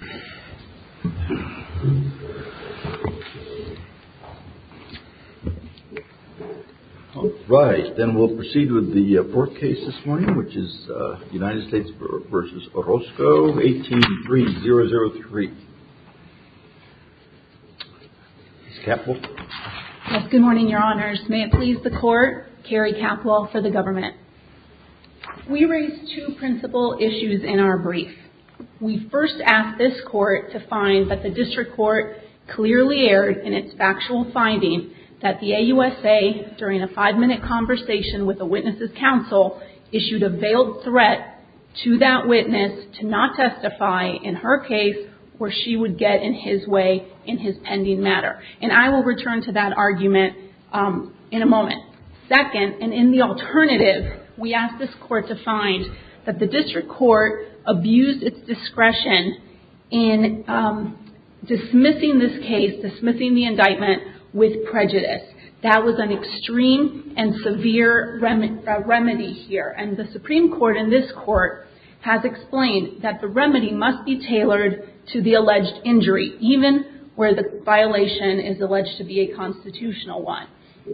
18-3-003. Ms. Capwell? Yes, good morning, your honors. May it please the court, Kerry Capwell for the government. We raised two principal issues in our brief. We first asked this court to find that the district court clearly erred in its factual finding that the AUSA, during a five-minute conversation with a witness's counsel, issued a veiled threat to that witness to not testify in her case where she would get in his way in his pending matter. And I will return to that argument in a moment. Second, and in the alternative, we asked this court to find that the district court abused its discretion in dismissing this case, dismissing the indictment, with prejudice. That was an extreme and severe remedy here. And the Supreme Court in this court has explained that the remedy must be tailored to the alleged injury, even where the violation is alleged to be a constitutional one.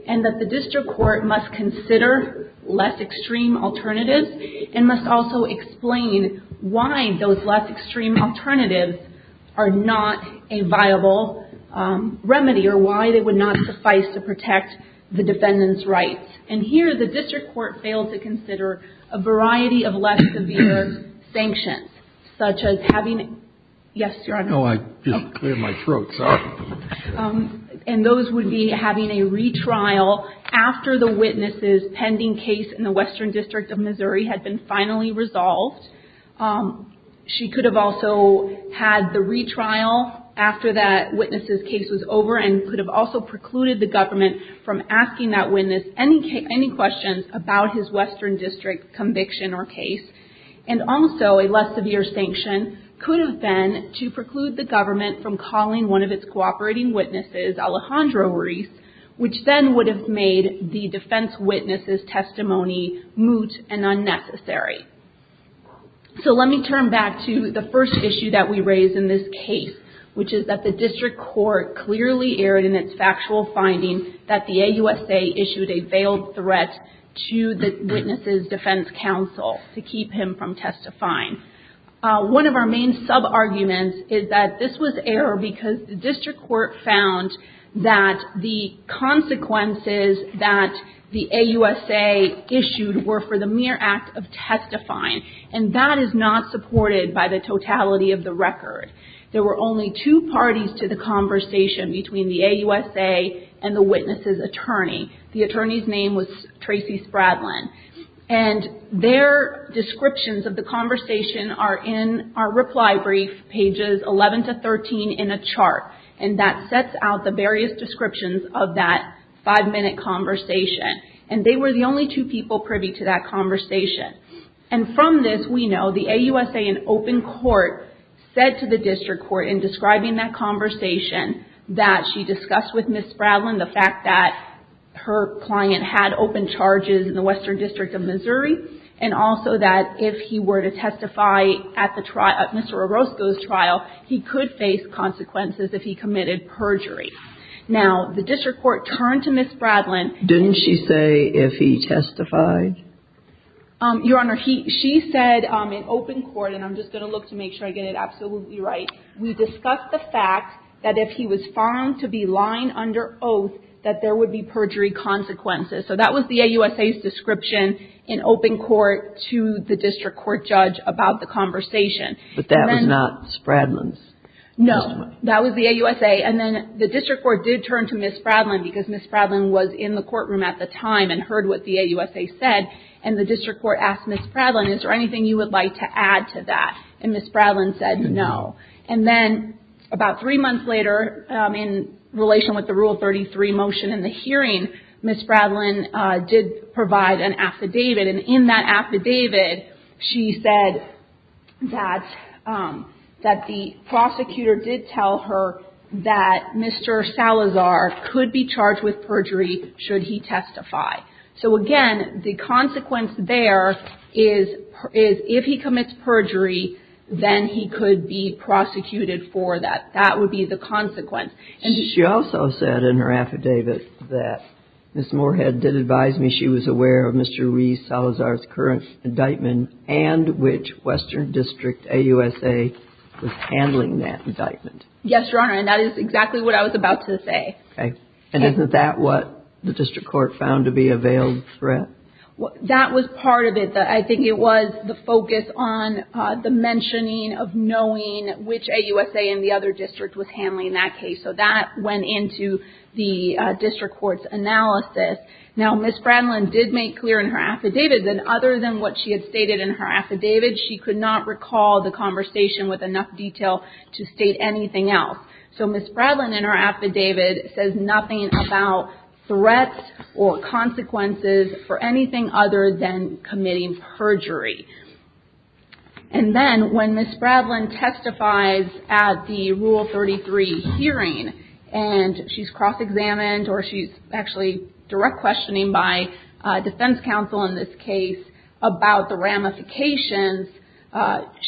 And that the district court must consider less extreme alternatives and must also explain why those less extreme alternatives are not a viable remedy or why they would not suffice to protect the defendant's rights. And here, the district court failed to consider a variety of less severe sanctions, such as having – yes, your honor. No, I just cleared my throat. Sorry. And those would be having a retrial after the witness's pending case in the Western District of Missouri had been finally resolved. She could have also had the retrial after that witness's case was over and could have also precluded the government from asking that witness any questions about his Western District conviction or case. And also, a less severe sanction could have been to preclude the government from calling one of its cooperating witnesses, Alejandro Ruiz, which then would have made the defense witness's testimony moot and unnecessary. So let me turn back to the first issue that we raised in this case, which is that the district court clearly erred in its factual finding that the AUSA issued a veiled threat to the witness's defense counsel to keep him from testifying. One of our main sub-arguments is that this was error because the district court found that the consequences that the AUSA issued were for the mere act of testifying. And that is not supported by the totality of the record. There were only two parties to the conversation between the AUSA and the witness's attorney. The attorney's name was Tracy Spradlin. And their descriptions of the conversation are in our reply brief, pages 11 to 13, in a chart. And that sets out the various descriptions of that five-minute conversation. And they were the only two people privy to that conversation. And from this, we know the AUSA in open court said to the district court in describing that conversation that she discussed with Ms. Spradlin the fact that her client had open charges in the Western District of Missouri. And also that if he were to testify at Mr. Orozco's trial, he could face consequences if he committed perjury. Now, the district court turned to Ms. Spradlin. Didn't she say if he testified? Your Honor, she said in open court, and I'm just going to look to make sure I get it absolutely right, we discussed the fact that if he was found to be lying under oath, that there would be perjury consequences. So that was the AUSA's description in open court to the district court judge about the conversation. But that was not Spradlin's testimony? That was the AUSA. And then the district court did turn to Ms. Spradlin because Ms. Spradlin was in the courtroom at the time and heard what the AUSA said. And the district court asked Ms. Spradlin, is there anything you would like to add to that? And Ms. Spradlin said no. And then about three months later, in relation with the Rule 33 motion in the hearing, Ms. Spradlin did provide an affidavit. And in that affidavit, she said that the prosecutor did tell her that Mr. Salazar could be charged with perjury should he testify. So, again, the consequence there is if he commits perjury, then he could be prosecuted for that. She also said in her affidavit that Ms. Moorhead did advise me she was aware of Mr. Reese Salazar's current indictment and which western district AUSA was handling that indictment. Yes, Your Honor. And that is exactly what I was about to say. Okay. And isn't that what the district court found to be a veiled threat? That was part of it. I think it was the focus on the mentioning of knowing which AUSA in the other district was handling that case. So that went into the district court's analysis. Now, Ms. Spradlin did make clear in her affidavit that other than what she had stated in her affidavit, she could not recall the conversation with enough detail to state anything else. So Ms. Spradlin in her affidavit says nothing about threats or consequences for anything other than committing perjury. And then when Ms. Spradlin testifies at the Rule 33 hearing, and she's cross-examined, or she's actually direct questioning by defense counsel in this case about the ramifications,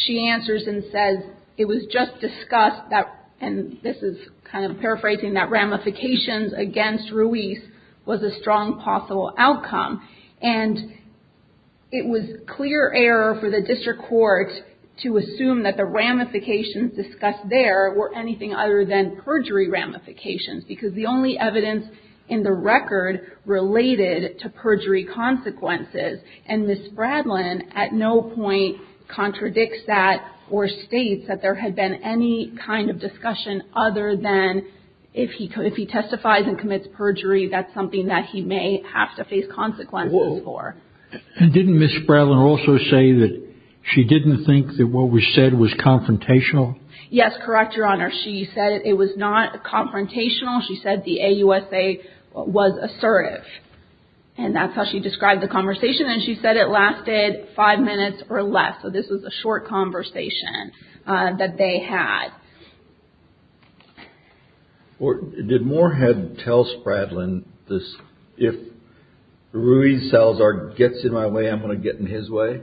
she answers and says, it was just discussed that, and this is kind of paraphrasing that ramifications against Ruiz was a strong possible outcome. And it was clear error for the district court to assume that the ramifications discussed there were anything other than perjury ramifications, because the only evidence in the record related to perjury consequences. And Ms. Spradlin at no point contradicts that or states that there had been any kind of discussion other than if he testifies and commits perjury, that's something that he may have to face consequences for. And didn't Ms. Spradlin also say that she didn't think that what was said was confrontational? Yes, correct, Your Honor. She said it was not confrontational. She said the AUSA was assertive. And that's how she described the conversation, and she said it lasted five minutes or less, so this was a short conversation that they had. Did Moorhead tell Spradlin this, if Ruiz Salazar gets in my way, I'm going to get in his way?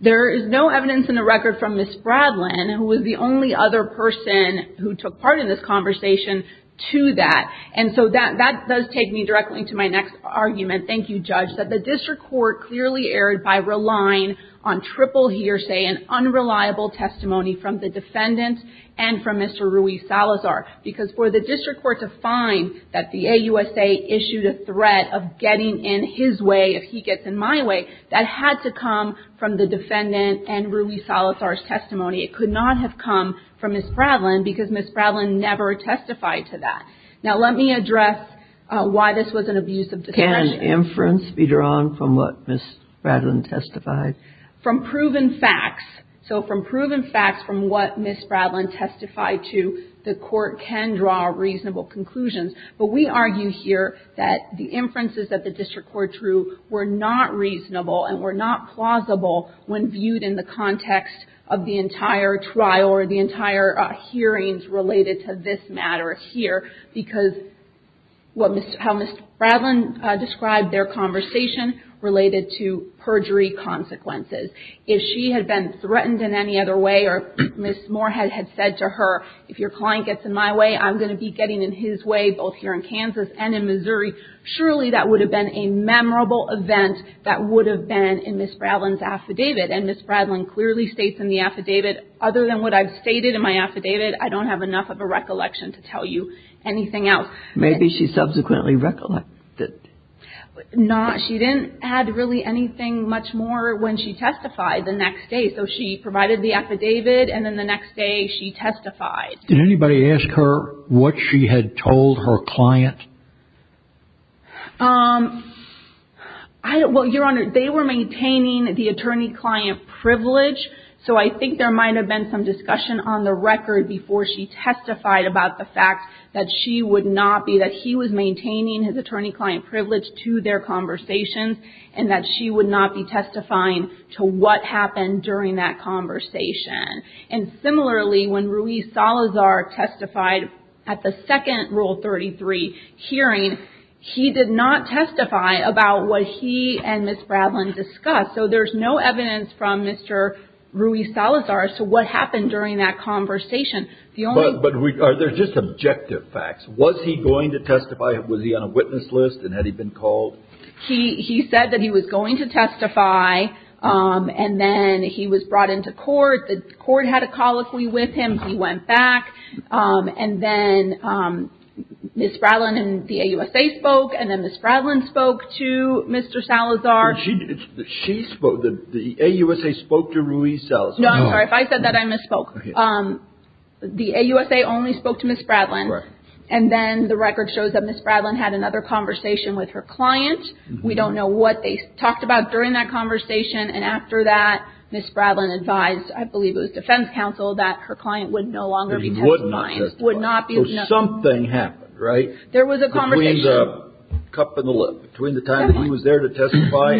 There is no evidence in the record from Ms. Spradlin, who was the only other person who took part in this conversation, to that. And so that does take me directly to my next argument. Thank you, Judge, that the district court clearly erred by relying on triple hearsay and unreliable testimony from the defendant and from Mr. Ruiz Salazar. Because for the district court to find that the AUSA issued a threat of getting in his way if he gets in my way, that had to come from the defendant and Ruiz Salazar's testimony. It could not have come from Ms. Spradlin because Ms. Spradlin never testified to that. Now let me address why this was an abuse of discretion. Can inference be drawn from what Ms. Spradlin testified? From proven facts. So from proven facts from what Ms. Spradlin testified to, the court can draw reasonable conclusions. But we argue here that the inferences that the district court drew were not reasonable and were not plausible when viewed in the context of the entire trial or the entire hearings related to this matter here. Because how Ms. Spradlin described their conversation related to perjury consequences. If she had been threatened in any other way or Ms. Moorhead had said to her, if your client gets in my way, I'm going to be getting in his way both here in Kansas and in Missouri, surely that would have been a memorable event that would have been in Ms. Spradlin's affidavit. And Ms. Spradlin clearly states in the affidavit, other than what I've stated in my affidavit, I don't have enough of a recollection to tell you anything else. Maybe she subsequently recollected. No, she didn't add really anything much more when she testified the next day. So she provided the affidavit and then the next day she testified. Did anybody ask her what she had told her client? Well, Your Honor, they were maintaining the attorney-client privilege. So I think there might have been some discussion on the record before she testified about the fact that she would not be, that he was maintaining his attorney-client privilege to their conversations and that she would not be testifying to what happened during that conversation. And similarly, when Ruiz Salazar testified at the second Rule 33 hearing, he did not testify about what he and Ms. Spradlin discussed. So there's no evidence from Mr. Ruiz Salazar as to what happened during that conversation. But are there just objective facts? Was he going to testify? Was he on a witness list and had he been called? He said that he was going to testify and then he was brought into court. The court had a call with him. He went back. And then Ms. Spradlin and the AUSA spoke. And then Ms. Spradlin spoke to Mr. Salazar. She spoke. The AUSA spoke to Ruiz Salazar. No, I'm sorry. If I said that, I misspoke. The AUSA only spoke to Ms. Spradlin. Correct. And then the record shows that Ms. Spradlin had another conversation with her client. We don't know what they talked about during that conversation. And after that, Ms. Spradlin advised, I believe it was defense counsel, that her client would no longer be testifying. But he would not testify. Would not be. So something happened, right? There was a conversation. Between the cup and the lip. Between the time that he was there to testify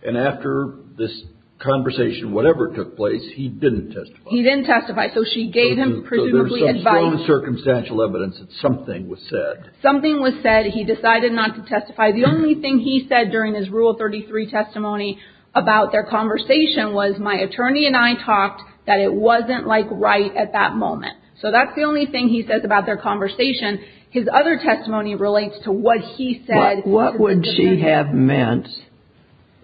and after this conversation, whatever took place, he didn't testify. He didn't testify. So she gave him presumably advice. So there was some strong circumstantial evidence that something was said. Something was said. He decided not to testify. The only thing he said during his Rule 33 testimony about their conversation was my attorney and I talked that it wasn't like right at that moment. So that's the only thing he says about their conversation. His other testimony relates to what he said. What would she have meant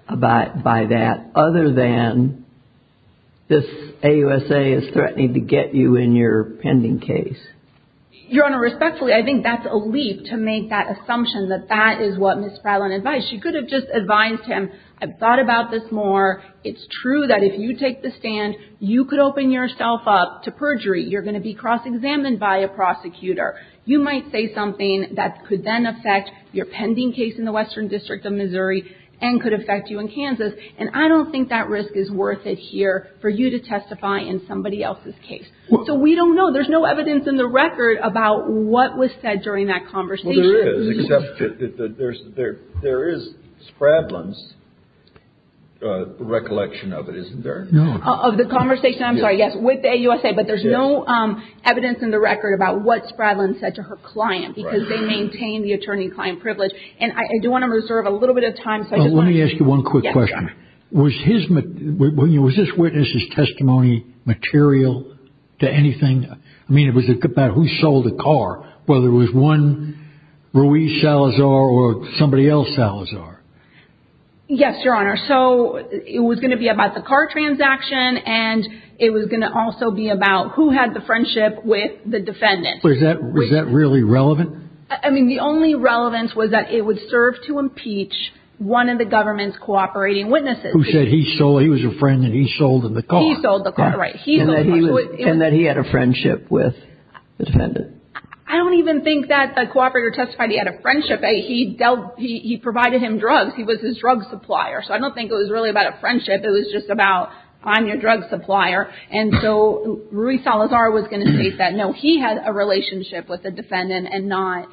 by that other than this AUSA is threatening to get you in your pending case? Your Honor, respectfully, I think that's a leap to make that assumption that that is what Ms. Spradlin advised. She could have just advised him, I've thought about this more. It's true that if you take the stand, you could open yourself up to perjury. You're going to be cross-examined by a prosecutor. You might say something that could then affect your pending case in the Western District of Missouri and could affect you in Kansas. And I don't think that risk is worth it here for you to testify in somebody else's case. So we don't know. There's no evidence in the record about what was said during that conversation. Well, there is, except that there is Spradlin's recollection of it, isn't there? No. Of the conversation, I'm sorry, yes, with the AUSA. But there's no evidence in the record about what Spradlin said to her client because they maintain the attorney-client privilege. And I do want to reserve a little bit of time. Let me ask you one quick question. Was this witness's testimony material to anything? I mean, it was about who sold the car, whether it was one Ruiz Salazar or somebody else Salazar. Yes, Your Honor. So it was going to be about the car transaction, and it was going to also be about who had the friendship with the defendant. Was that really relevant? I mean, the only relevance was that it would serve to impeach one of the government's cooperating witnesses. Who said he was a friend and he sold the car. He sold the car, right. And that he had a friendship with the defendant. I don't even think that the cooperator testified he had a friendship. He provided him drugs. He was his drug supplier. So I don't think it was really about a friendship. It was just about, I'm your drug supplier. And so Ruiz Salazar was going to state that, no, he had a relationship with the defendant and not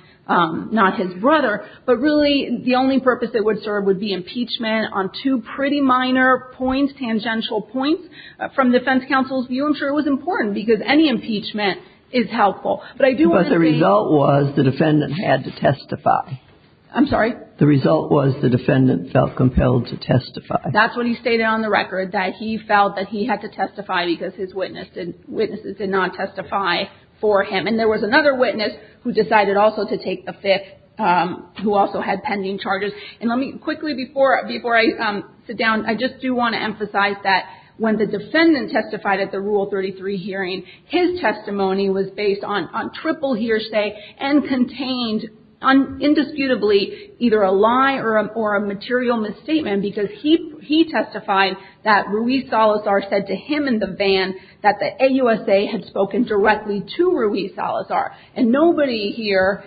his brother. But really, the only purpose it would serve would be impeachment on two pretty minor points, tangential points. From the defense counsel's view, I'm sure it was important because any impeachment is helpful. But I do want to say. But the result was the defendant had to testify. I'm sorry? The result was the defendant felt compelled to testify. That's what he stated on the record, that he felt that he had to testify because his witnesses did not testify for him. And there was another witness who decided also to take the fifth, who also had pending charges. And let me quickly, before I sit down, I just do want to emphasize that when the defendant testified at the Rule 33 hearing, his testimony was based on triple hearsay and contained indisputably either a lie or a material misstatement because he testified that Ruiz Salazar said to him in the van that the AUSA had spoken directly to Ruiz Salazar. And nobody here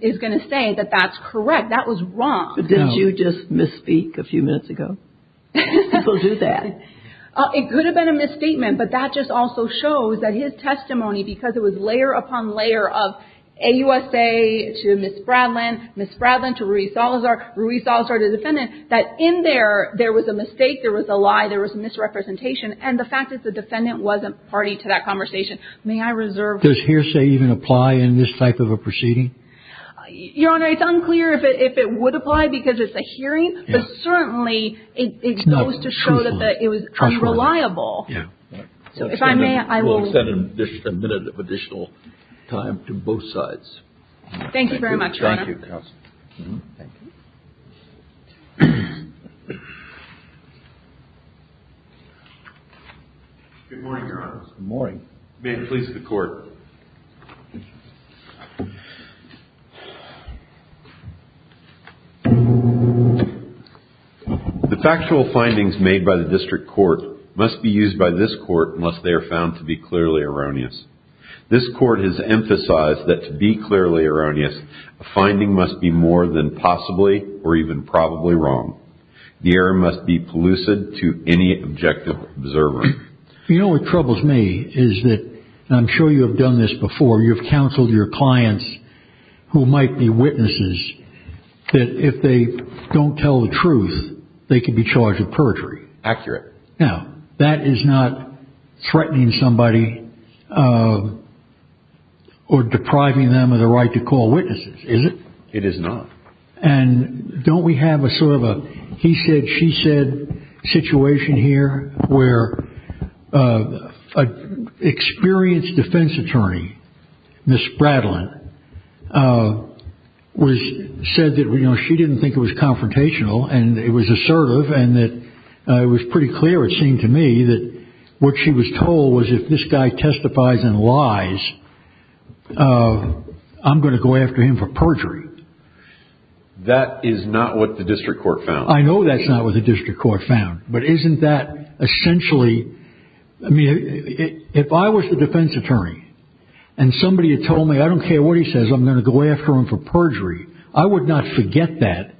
is going to say that that's correct. That was wrong. But didn't you just misspeak a few minutes ago? People do that. It could have been a misstatement, but that just also shows that his testimony, because it was layer upon layer of AUSA to Ms. Bradlen, Ms. Bradlen to Ruiz Salazar, Ruiz Salazar to the defendant, that in there, there was a mistake, there was a lie, there was misrepresentation, and the fact is the defendant wasn't party to that conversation. May I reserve? Does hearsay even apply in this type of a proceeding? Your Honor, it's unclear if it would apply because it's a hearing, but certainly it goes to show that it was unreliable. So if I may, I will. We'll extend a minute of additional time to both sides. Thank you very much, Your Honor. Thank you, counsel. Thank you. Good morning, Your Honor. Good morning. May it please the Court. The factual findings made by the district court must be used by this court unless they are found to be clearly erroneous. This court has emphasized that to be clearly erroneous, a finding must be more than possibly or even probably wrong. The error must be pellucid to any objective observer. You know what troubles me is that, and I'm sure you have done this before, you've counseled your clients who might be witnesses that if they don't tell the truth, they could be charged with perjury. Accurate. Now, that is not threatening somebody or depriving them of the right to call witnesses, is it? It is not. And don't we have a sort of a he said, she said situation here where an experienced defense attorney, Ms. Bradleyn, said that she didn't think it was confrontational and it was assertive and that it was pretty clear, it seemed to me, that what she was told was if this guy testifies in lies, I'm going to go after him for perjury. That is not what the district court found. I know that's not what the district court found. But isn't that essentially, I mean, if I was the defense attorney and somebody had told me I don't care what he says, I'm going to go after him for perjury, I would not forget that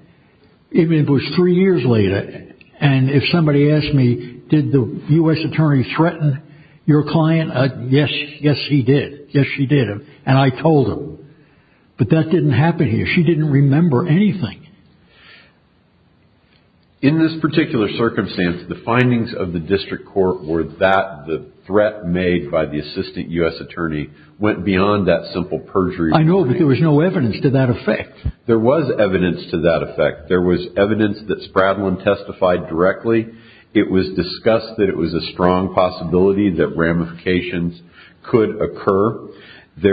even if it was three years later. And if somebody asked me, did the U.S. attorney threaten your client? Yes, yes, he did. Yes, she did. And I told him. But that didn't happen here. She didn't remember anything. In this particular circumstance, the findings of the district court were that the threat made by the assistant U.S. attorney went beyond that simple perjury. I know, but there was no evidence to that effect. There was evidence to that effect. There was evidence that Spradlin testified directly. It was discussed that it was a strong possibility that ramifications could occur. But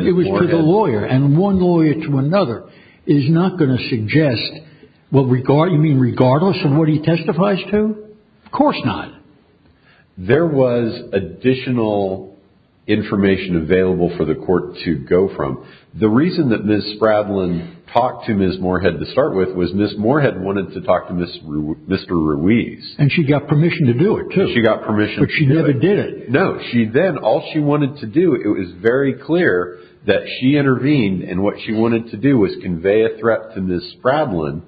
it was to the lawyer, and one lawyer to another is not going to suggest, you mean regardless of what he testifies to? Of course not. There was additional information available for the court to go from. The reason that Ms. Spradlin talked to Ms. Moorhead to start with was Ms. Moorhead wanted to talk to Mr. Ruiz. And she got permission to do it, too. She got permission to do it. But she never did it. No. Then all she wanted to do, it was very clear that she intervened, and what she wanted to do was convey a threat to Ms. Spradlin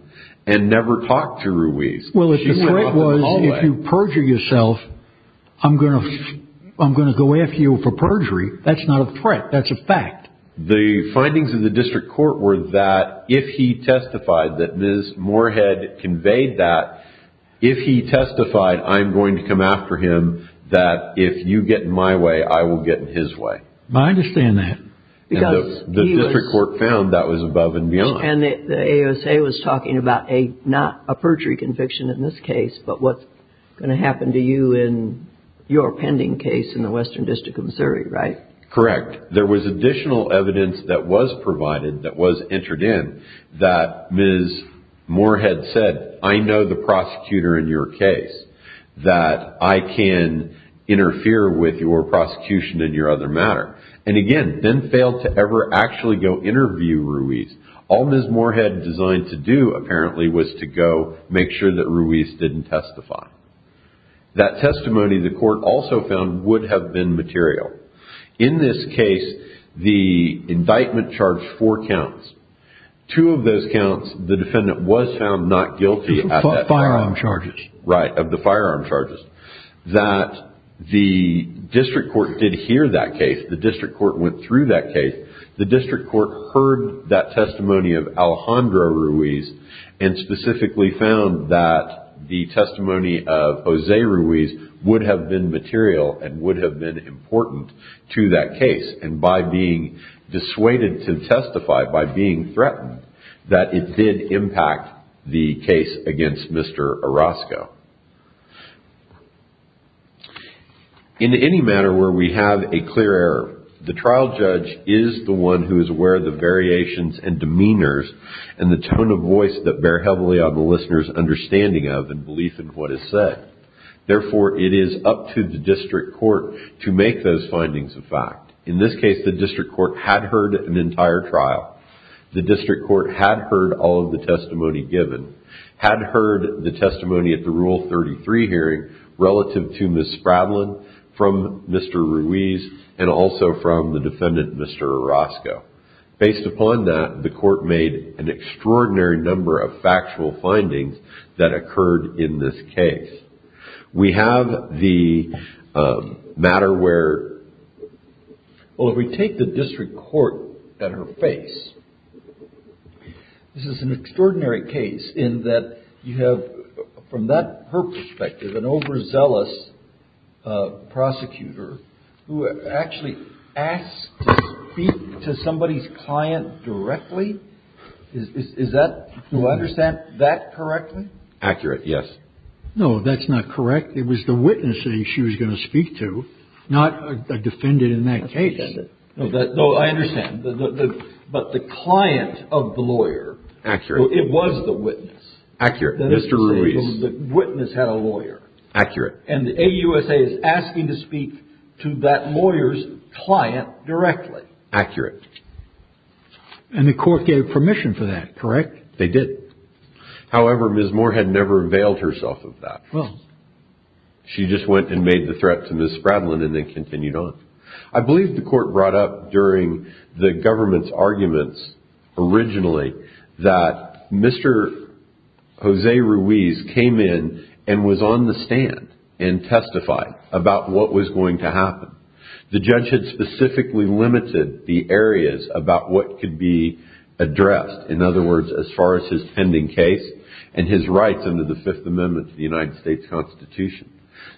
and never talk to Ruiz. Well, if the threat was if you perjure yourself, I'm going to go after you for perjury. That's not a threat. That's a fact. The findings of the district court were that if he testified that Ms. Moorhead conveyed that, if he testified I'm going to come after him, that if you get in my way, I will get in his way. I understand that. The district court found that was above and beyond. And the ASA was talking about not a perjury conviction in this case, but what's going to happen to you in your pending case in the Western District of Missouri, right? Correct. There was additional evidence that was provided, that was entered in, that Ms. Moorhead said, I know the prosecutor in your case, that I can interfere with your prosecution in your other matter. And, again, then failed to ever actually go interview Ruiz. All Ms. Moorhead designed to do, apparently, was to go make sure that Ruiz didn't testify. That testimony, the court also found, would have been material. In this case, the indictment charged four counts. Two of those counts, the defendant was found not guilty. Of the firearm charges. Right, of the firearm charges. That the district court did hear that case. The district court went through that case. The district court heard that testimony of Alejandro Ruiz and specifically found that the testimony of Jose Ruiz would have been material and would have been important to that case. And by being dissuaded to testify, by being threatened, that it did impact the case against Mr. Orozco. In any matter where we have a clear error, the trial judge is the one who is aware of the variations and demeanors and the tone of voice that bear heavily on the listener's understanding of and belief in what is said. Therefore, it is up to the district court to make those findings a fact. In this case, the district court had heard an entire trial. The district court had heard all of the testimony given. Had heard the testimony at the Rule 33 hearing relative to Ms. Spradlin, from Mr. Ruiz, and also from the defendant, Mr. Orozco. Based upon that, the court made an extraordinary number of factual findings that occurred in this case. We have the matter where, well, if we take the district court at her face, this is an extraordinary case in that you have, from that, her perspective, an overzealous prosecutor who actually asked to speak to somebody's client directly. Is that, do I understand that correctly? Accurate, yes. No, that's not correct. It was the witness that she was going to speak to, not a defendant in that case. No, I understand. But the client of the lawyer. Accurate. It was the witness. Accurate. Mr. Ruiz. The witness had a lawyer. Accurate. And the AUSA is asking to speak to that lawyer's client directly. Accurate. And the court gave permission for that, correct? They did. However, Ms. Moore had never availed herself of that. Well. She just went and made the threat to Ms. Spradlin and then continued on. I believe the court brought up during the government's arguments originally that Mr. Jose Ruiz came in and was on the stand and testified about what was going to happen. The judge had specifically limited the areas about what could be addressed. In other words, as far as his pending case and his rights under the Fifth Amendment to the United States Constitution.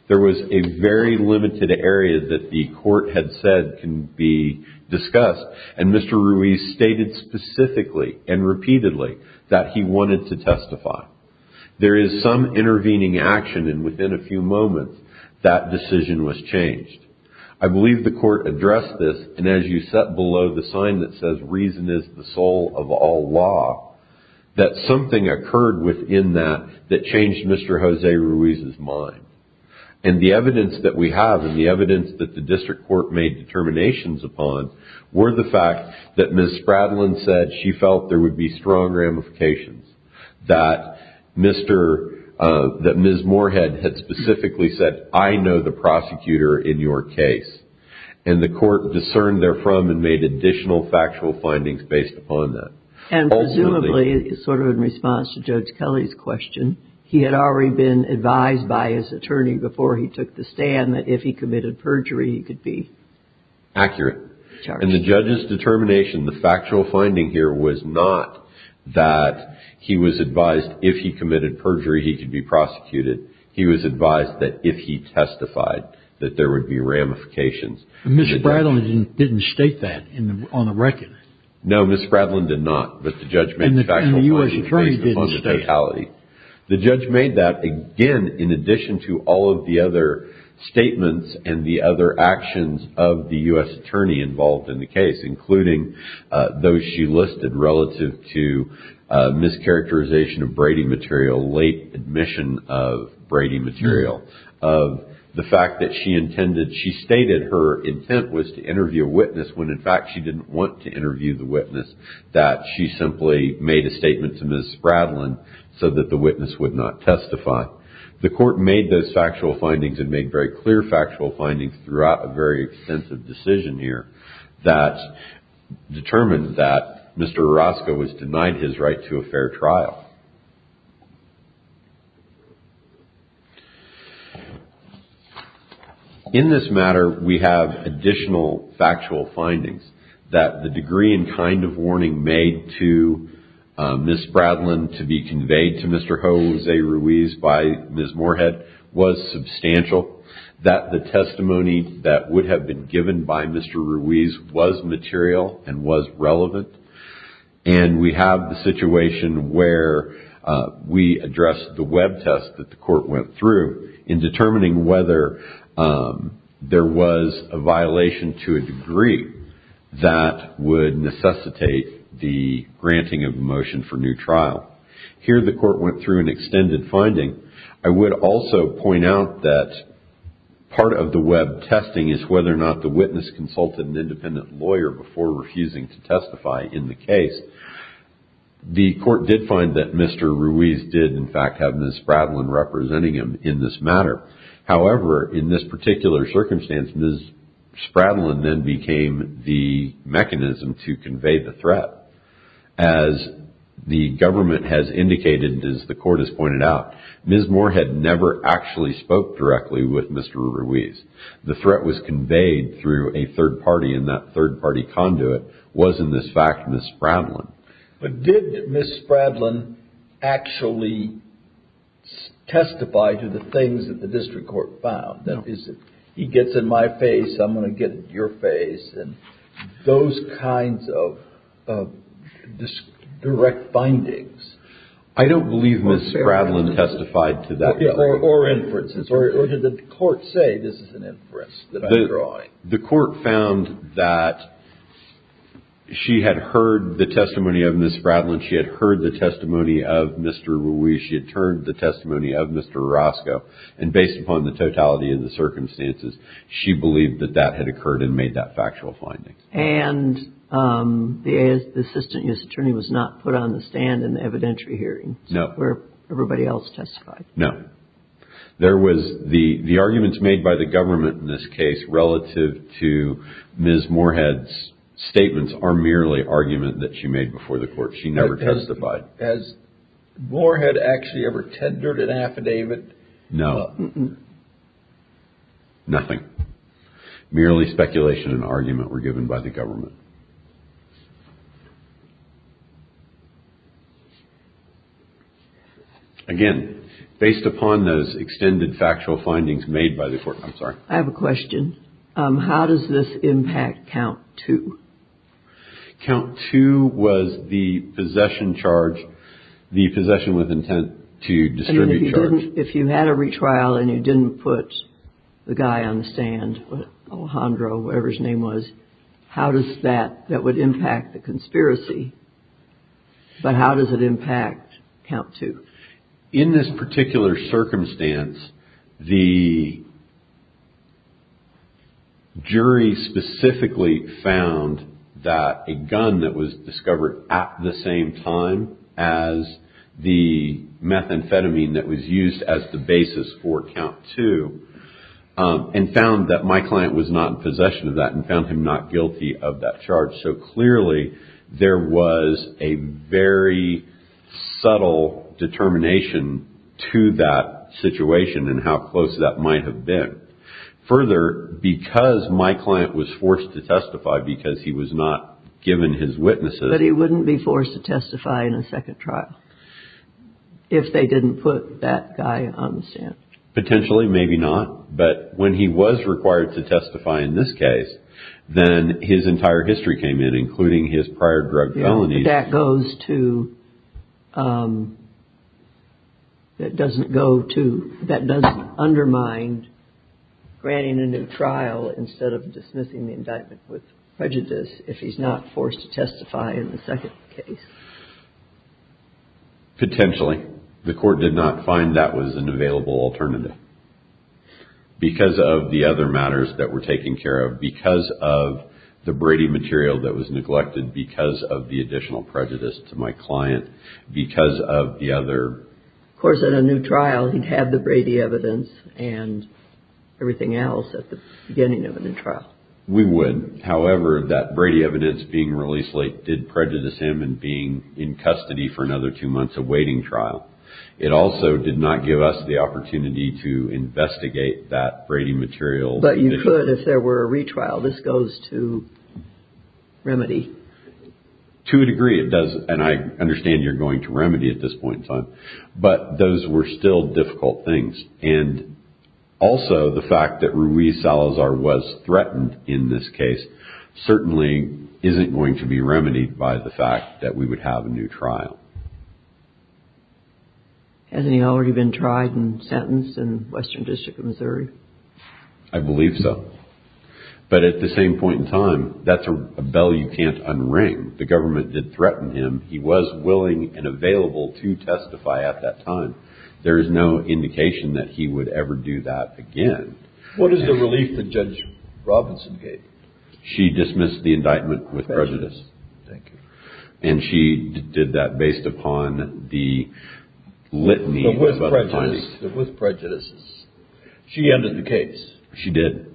There was a very limited area that the court had said can be discussed. And Mr. Ruiz stated specifically and repeatedly that he wanted to testify. There is some intervening action and within a few moments that decision was changed. I believe the court addressed this. And as you set below the sign that says reason is the soul of all law, that something occurred within that that changed Mr. Jose Ruiz's mind. And the evidence that we have and the evidence that the district court made determinations upon were the fact that Ms. Spradlin said she felt there would be strong ramifications. That Ms. Moorhead had specifically said I know the prosecutor in your case. And the court discerned therefrom and made additional factual findings based upon that. And presumably, sort of in response to Judge Kelly's question, he had already been advised by his attorney before he took the stand that if he committed perjury he could be charged. Accurate. And the judge's determination, the factual finding here was not that he was advised if he committed perjury he could be prosecuted. He was advised that if he testified that there would be ramifications. Ms. Spradlin didn't state that on the record. No, Ms. Spradlin did not. But the judge made factual findings based upon the totality. The judge made that, again, in addition to all of the other statements and the other actions of the U.S. attorney involved in the case, including those she listed relative to mischaracterization of Brady material, late admission of Brady material. The fact that she intended, she stated her intent was to interview a witness when in fact she didn't want to interview the witness. That she simply made a statement to Ms. Spradlin so that the witness would not testify. The court made those factual findings and made very clear factual findings throughout a very extensive decision here that determined that Mr. Orozco was denied his right to a fair trial. In this matter, we have additional factual findings that the degree and kind of warning made to Ms. Spradlin to be conveyed to Mr. Jose Ruiz by Ms. Moorhead was substantial. That the testimony that would have been given by Mr. Ruiz was material and was relevant. And we have the situation where we addressed the web test that the court went through in determining whether there was a violation to a degree that would necessitate the granting of a motion for new trial. Here the court went through an extended finding. I would also point out that part of the web testing is whether or not the witness consulted an independent lawyer before refusing to testify in the case. The court did find that Mr. Ruiz did in fact have Ms. Spradlin representing him in this matter. However, in this particular circumstance, Ms. Spradlin then became the mechanism to convey the threat. As the government has indicated, as the court has pointed out, Ms. Moorhead never actually spoke directly with Mr. Ruiz. The threat was conveyed through a third party and that third party conduit was in this fact Ms. Spradlin. But did Ms. Spradlin actually testify to the things that the district court found? That is, he gets in my face, I'm going to get in your face, and those kinds of direct findings. I don't believe Ms. Spradlin testified to that. Or inferences. Or did the court say this is an inference that I'm drawing? The court found that she had heard the testimony of Ms. Spradlin. She had heard the testimony of Mr. Ruiz. She had heard the testimony of Mr. Orozco. And based upon the totality of the circumstances, she believed that that had occurred and made that factual finding. And the assistant U.S. attorney was not put on the stand in the evidentiary hearing? No. Where everybody else testified? No. There was the arguments made by the government in this case relative to Ms. Moorhead's statements are merely argument that she made before the court. She never testified. Has Moorhead actually ever tendered an affidavit? No. Nothing. Merely speculation and argument were given by the government. Again, based upon those extended factual findings made by the court, I'm sorry. I have a question. How does this impact count two? Count two was the possession charge, the possession with intent to distribute charge. If you had a retrial and you didn't put the guy on the stand, Alejandro, whatever his name was, how does that, that would impact the conspiracy? But how does it impact count two? In this particular circumstance, the jury specifically found that a gun that was discovered at the same time as the methamphetamine that was used as the basis for count two and found that my client was not in possession of that and found him not guilty of that charge. So clearly there was a very subtle determination to that situation and how close that might have been. Further, because my client was forced to testify because he was not given his witnesses. But he wouldn't be forced to testify in a second trial if they didn't put that guy on the stand. Potentially, maybe not. But when he was required to testify in this case, then his entire history came in, including his prior drug felonies. That goes to, that doesn't undermine granting a new trial instead of dismissing the indictment with prejudice if he's not forced to testify in the second case. Potentially. The court did not find that was an available alternative. Because of the other matters that were taken care of. Because of the Brady material that was neglected. Because of the additional prejudice to my client. Because of the other. Of course, in a new trial, he'd have the Brady evidence and everything else at the beginning of a new trial. We would. However, that Brady evidence being released late did prejudice him and being in custody for another two months awaiting trial. It also did not give us the opportunity to investigate that Brady material. But you could if there were a retrial. This goes to remedy. To a degree, it does. And I understand you're going to remedy at this point in time. But those were still difficult things. Also, the fact that Ruiz Salazar was threatened in this case certainly isn't going to be remedied by the fact that we would have a new trial. Hasn't he already been tried and sentenced in Western District of Missouri? I believe so. But at the same point in time, that's a bell you can't unring. The government did threaten him. He was willing and available to testify at that time. There is no indication that he would ever do that again. What is the relief that Judge Robinson gave? She dismissed the indictment with prejudice. Thank you. And she did that based upon the litany of other clients. But with prejudice. She ended the case. She did.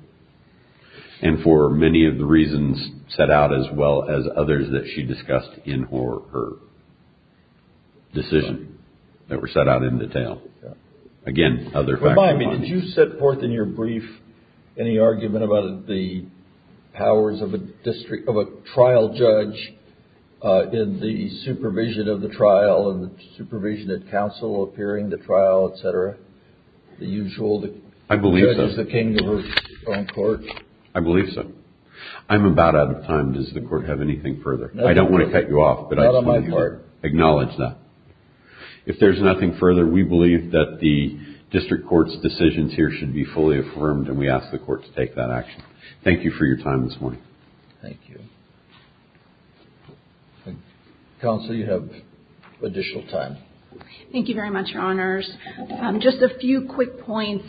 And for many of the reasons set out as well as others that she discussed in her decision that were set out in detail. Again, other facts. Remind me, did you set forth in your brief any argument about the powers of a trial judge in the supervision of the trial, in the supervision of counsel appearing at the trial, et cetera? I believe so. I'm about out of time. Does the court have anything further? I don't want to cut you off, but I just want you to acknowledge that. If there's nothing further, we believe that the district court's decisions here should be fully affirmed, and we ask the court to take that action. Thank you for your time this morning. Thank you. Counsel, you have additional time. Thank you very much, Your Honors. Just a few quick points.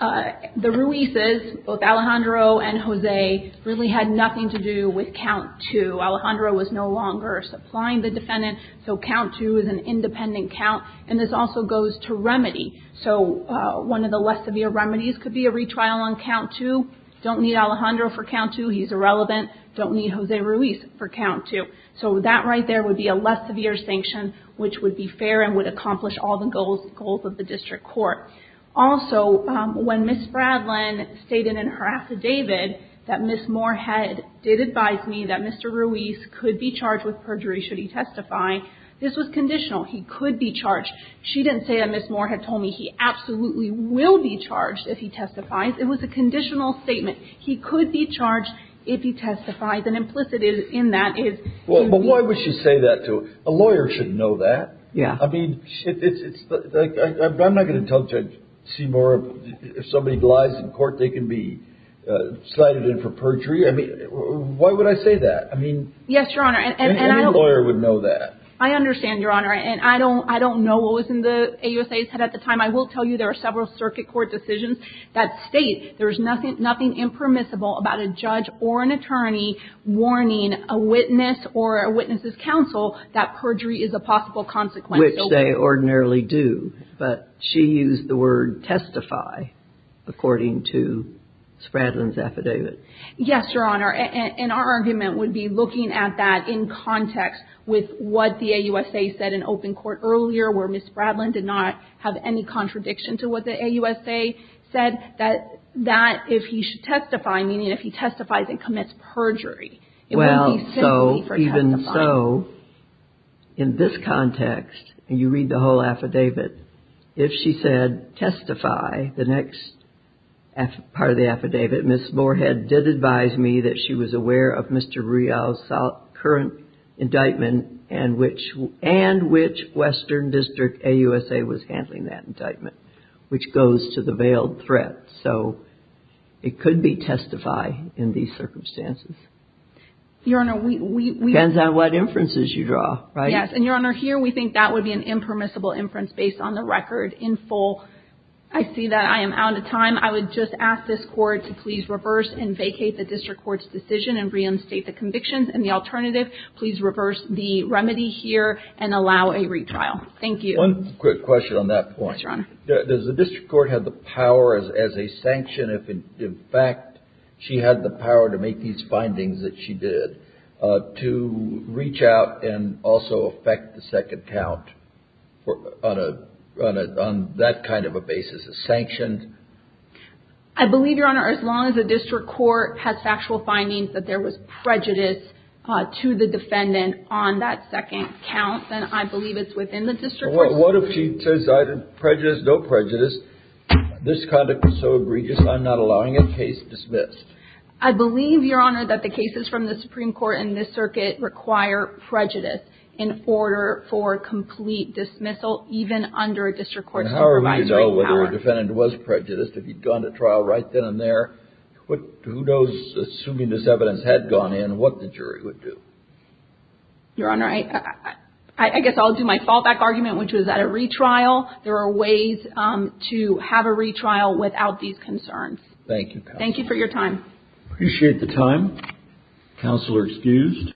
The Ruiz's, both Alejandro and Jose, really had nothing to do with count two. Alejandro was no longer supplying the defendant. So, count two is an independent count. And this also goes to remedy. So, one of the less severe remedies could be a retrial on count two. Don't need Alejandro for count two. He's irrelevant. Don't need Jose Ruiz for count two. So, that right there would be a less severe sanction, which would be fair and would accomplish all the goals of the district court. Also, when Ms. Fradlin stated in her affidavit that Ms. Moorhead did advise me that Mr. Ruiz could be charged with perjury should he testify, this was conditional. He could be charged. She didn't say that Ms. Moorhead told me he absolutely will be charged if he testifies. It was a conditional statement. He could be charged if he testifies. And implicit in that is... Well, but why would she say that to... A lawyer should know that. Yeah. I mean, it's like... I'm not going to tell Judge Seymour if somebody lies in court, they can be cited in for perjury. I mean, why would I say that? I mean... Yes, Your Honor. Any lawyer would know that. I understand, Your Honor. And I don't know what was in the AUSA's head at the time. I will tell you there are several circuit court decisions that state there is nothing impermissible about a judge or an attorney warning a witness or a witness's counsel that perjury is a possible consequence. Which they ordinarily do. But she used the word testify, according to Spradlin's affidavit. Yes, Your Honor. And our argument would be looking at that in context with what the AUSA said in open court earlier, where Ms. Spradlin did not have any contradiction to what the AUSA said, that if he should testify, meaning if he testifies and commits perjury, it would be simply for testifying. Well, so even so, in this context, and you read the whole affidavit, if she said testify, the next part of the affidavit, Ms. Moorhead did advise me that she was aware of Mr. Rial's current indictment and which Western District AUSA was handling that indictment, which goes to the veiled threat. So it could be testify in these circumstances. Your Honor, we — Depends on what inferences you draw, right? Yes. And, Your Honor, here we think that would be an impermissible inference based on the record in full. I see that I am out of time. I would just ask this Court to please reverse and vacate the district court's decision and reinstate the convictions. And the alternative, please reverse the remedy here and allow a retrial. Thank you. One quick question on that point. Yes, Your Honor. Does the district court have the power as a sanction, if in fact she had the power to make these findings that she did, to reach out and also affect the second count on that kind of a basis as sanctions? I believe, Your Honor, as long as the district court has factual findings that there was prejudice to the defendant on that second count, then I believe it's within the district court's jurisdiction. Well, what if she says I did prejudice, no prejudice, this conduct was so egregious I'm not allowing a case dismissed? I believe, Your Honor, that the cases from the Supreme Court and this circuit require prejudice in order for complete dismissal, even under a district court supervisory power. Well, if the defendant was prejudiced, if he'd gone to trial right then and there, who knows, assuming this evidence had gone in, what the jury would do? Your Honor, I guess I'll do my fallback argument, which was at a retrial, there are ways to have a retrial without these concerns. Thank you. Thank you for your time. Appreciate the time. Counselor excused.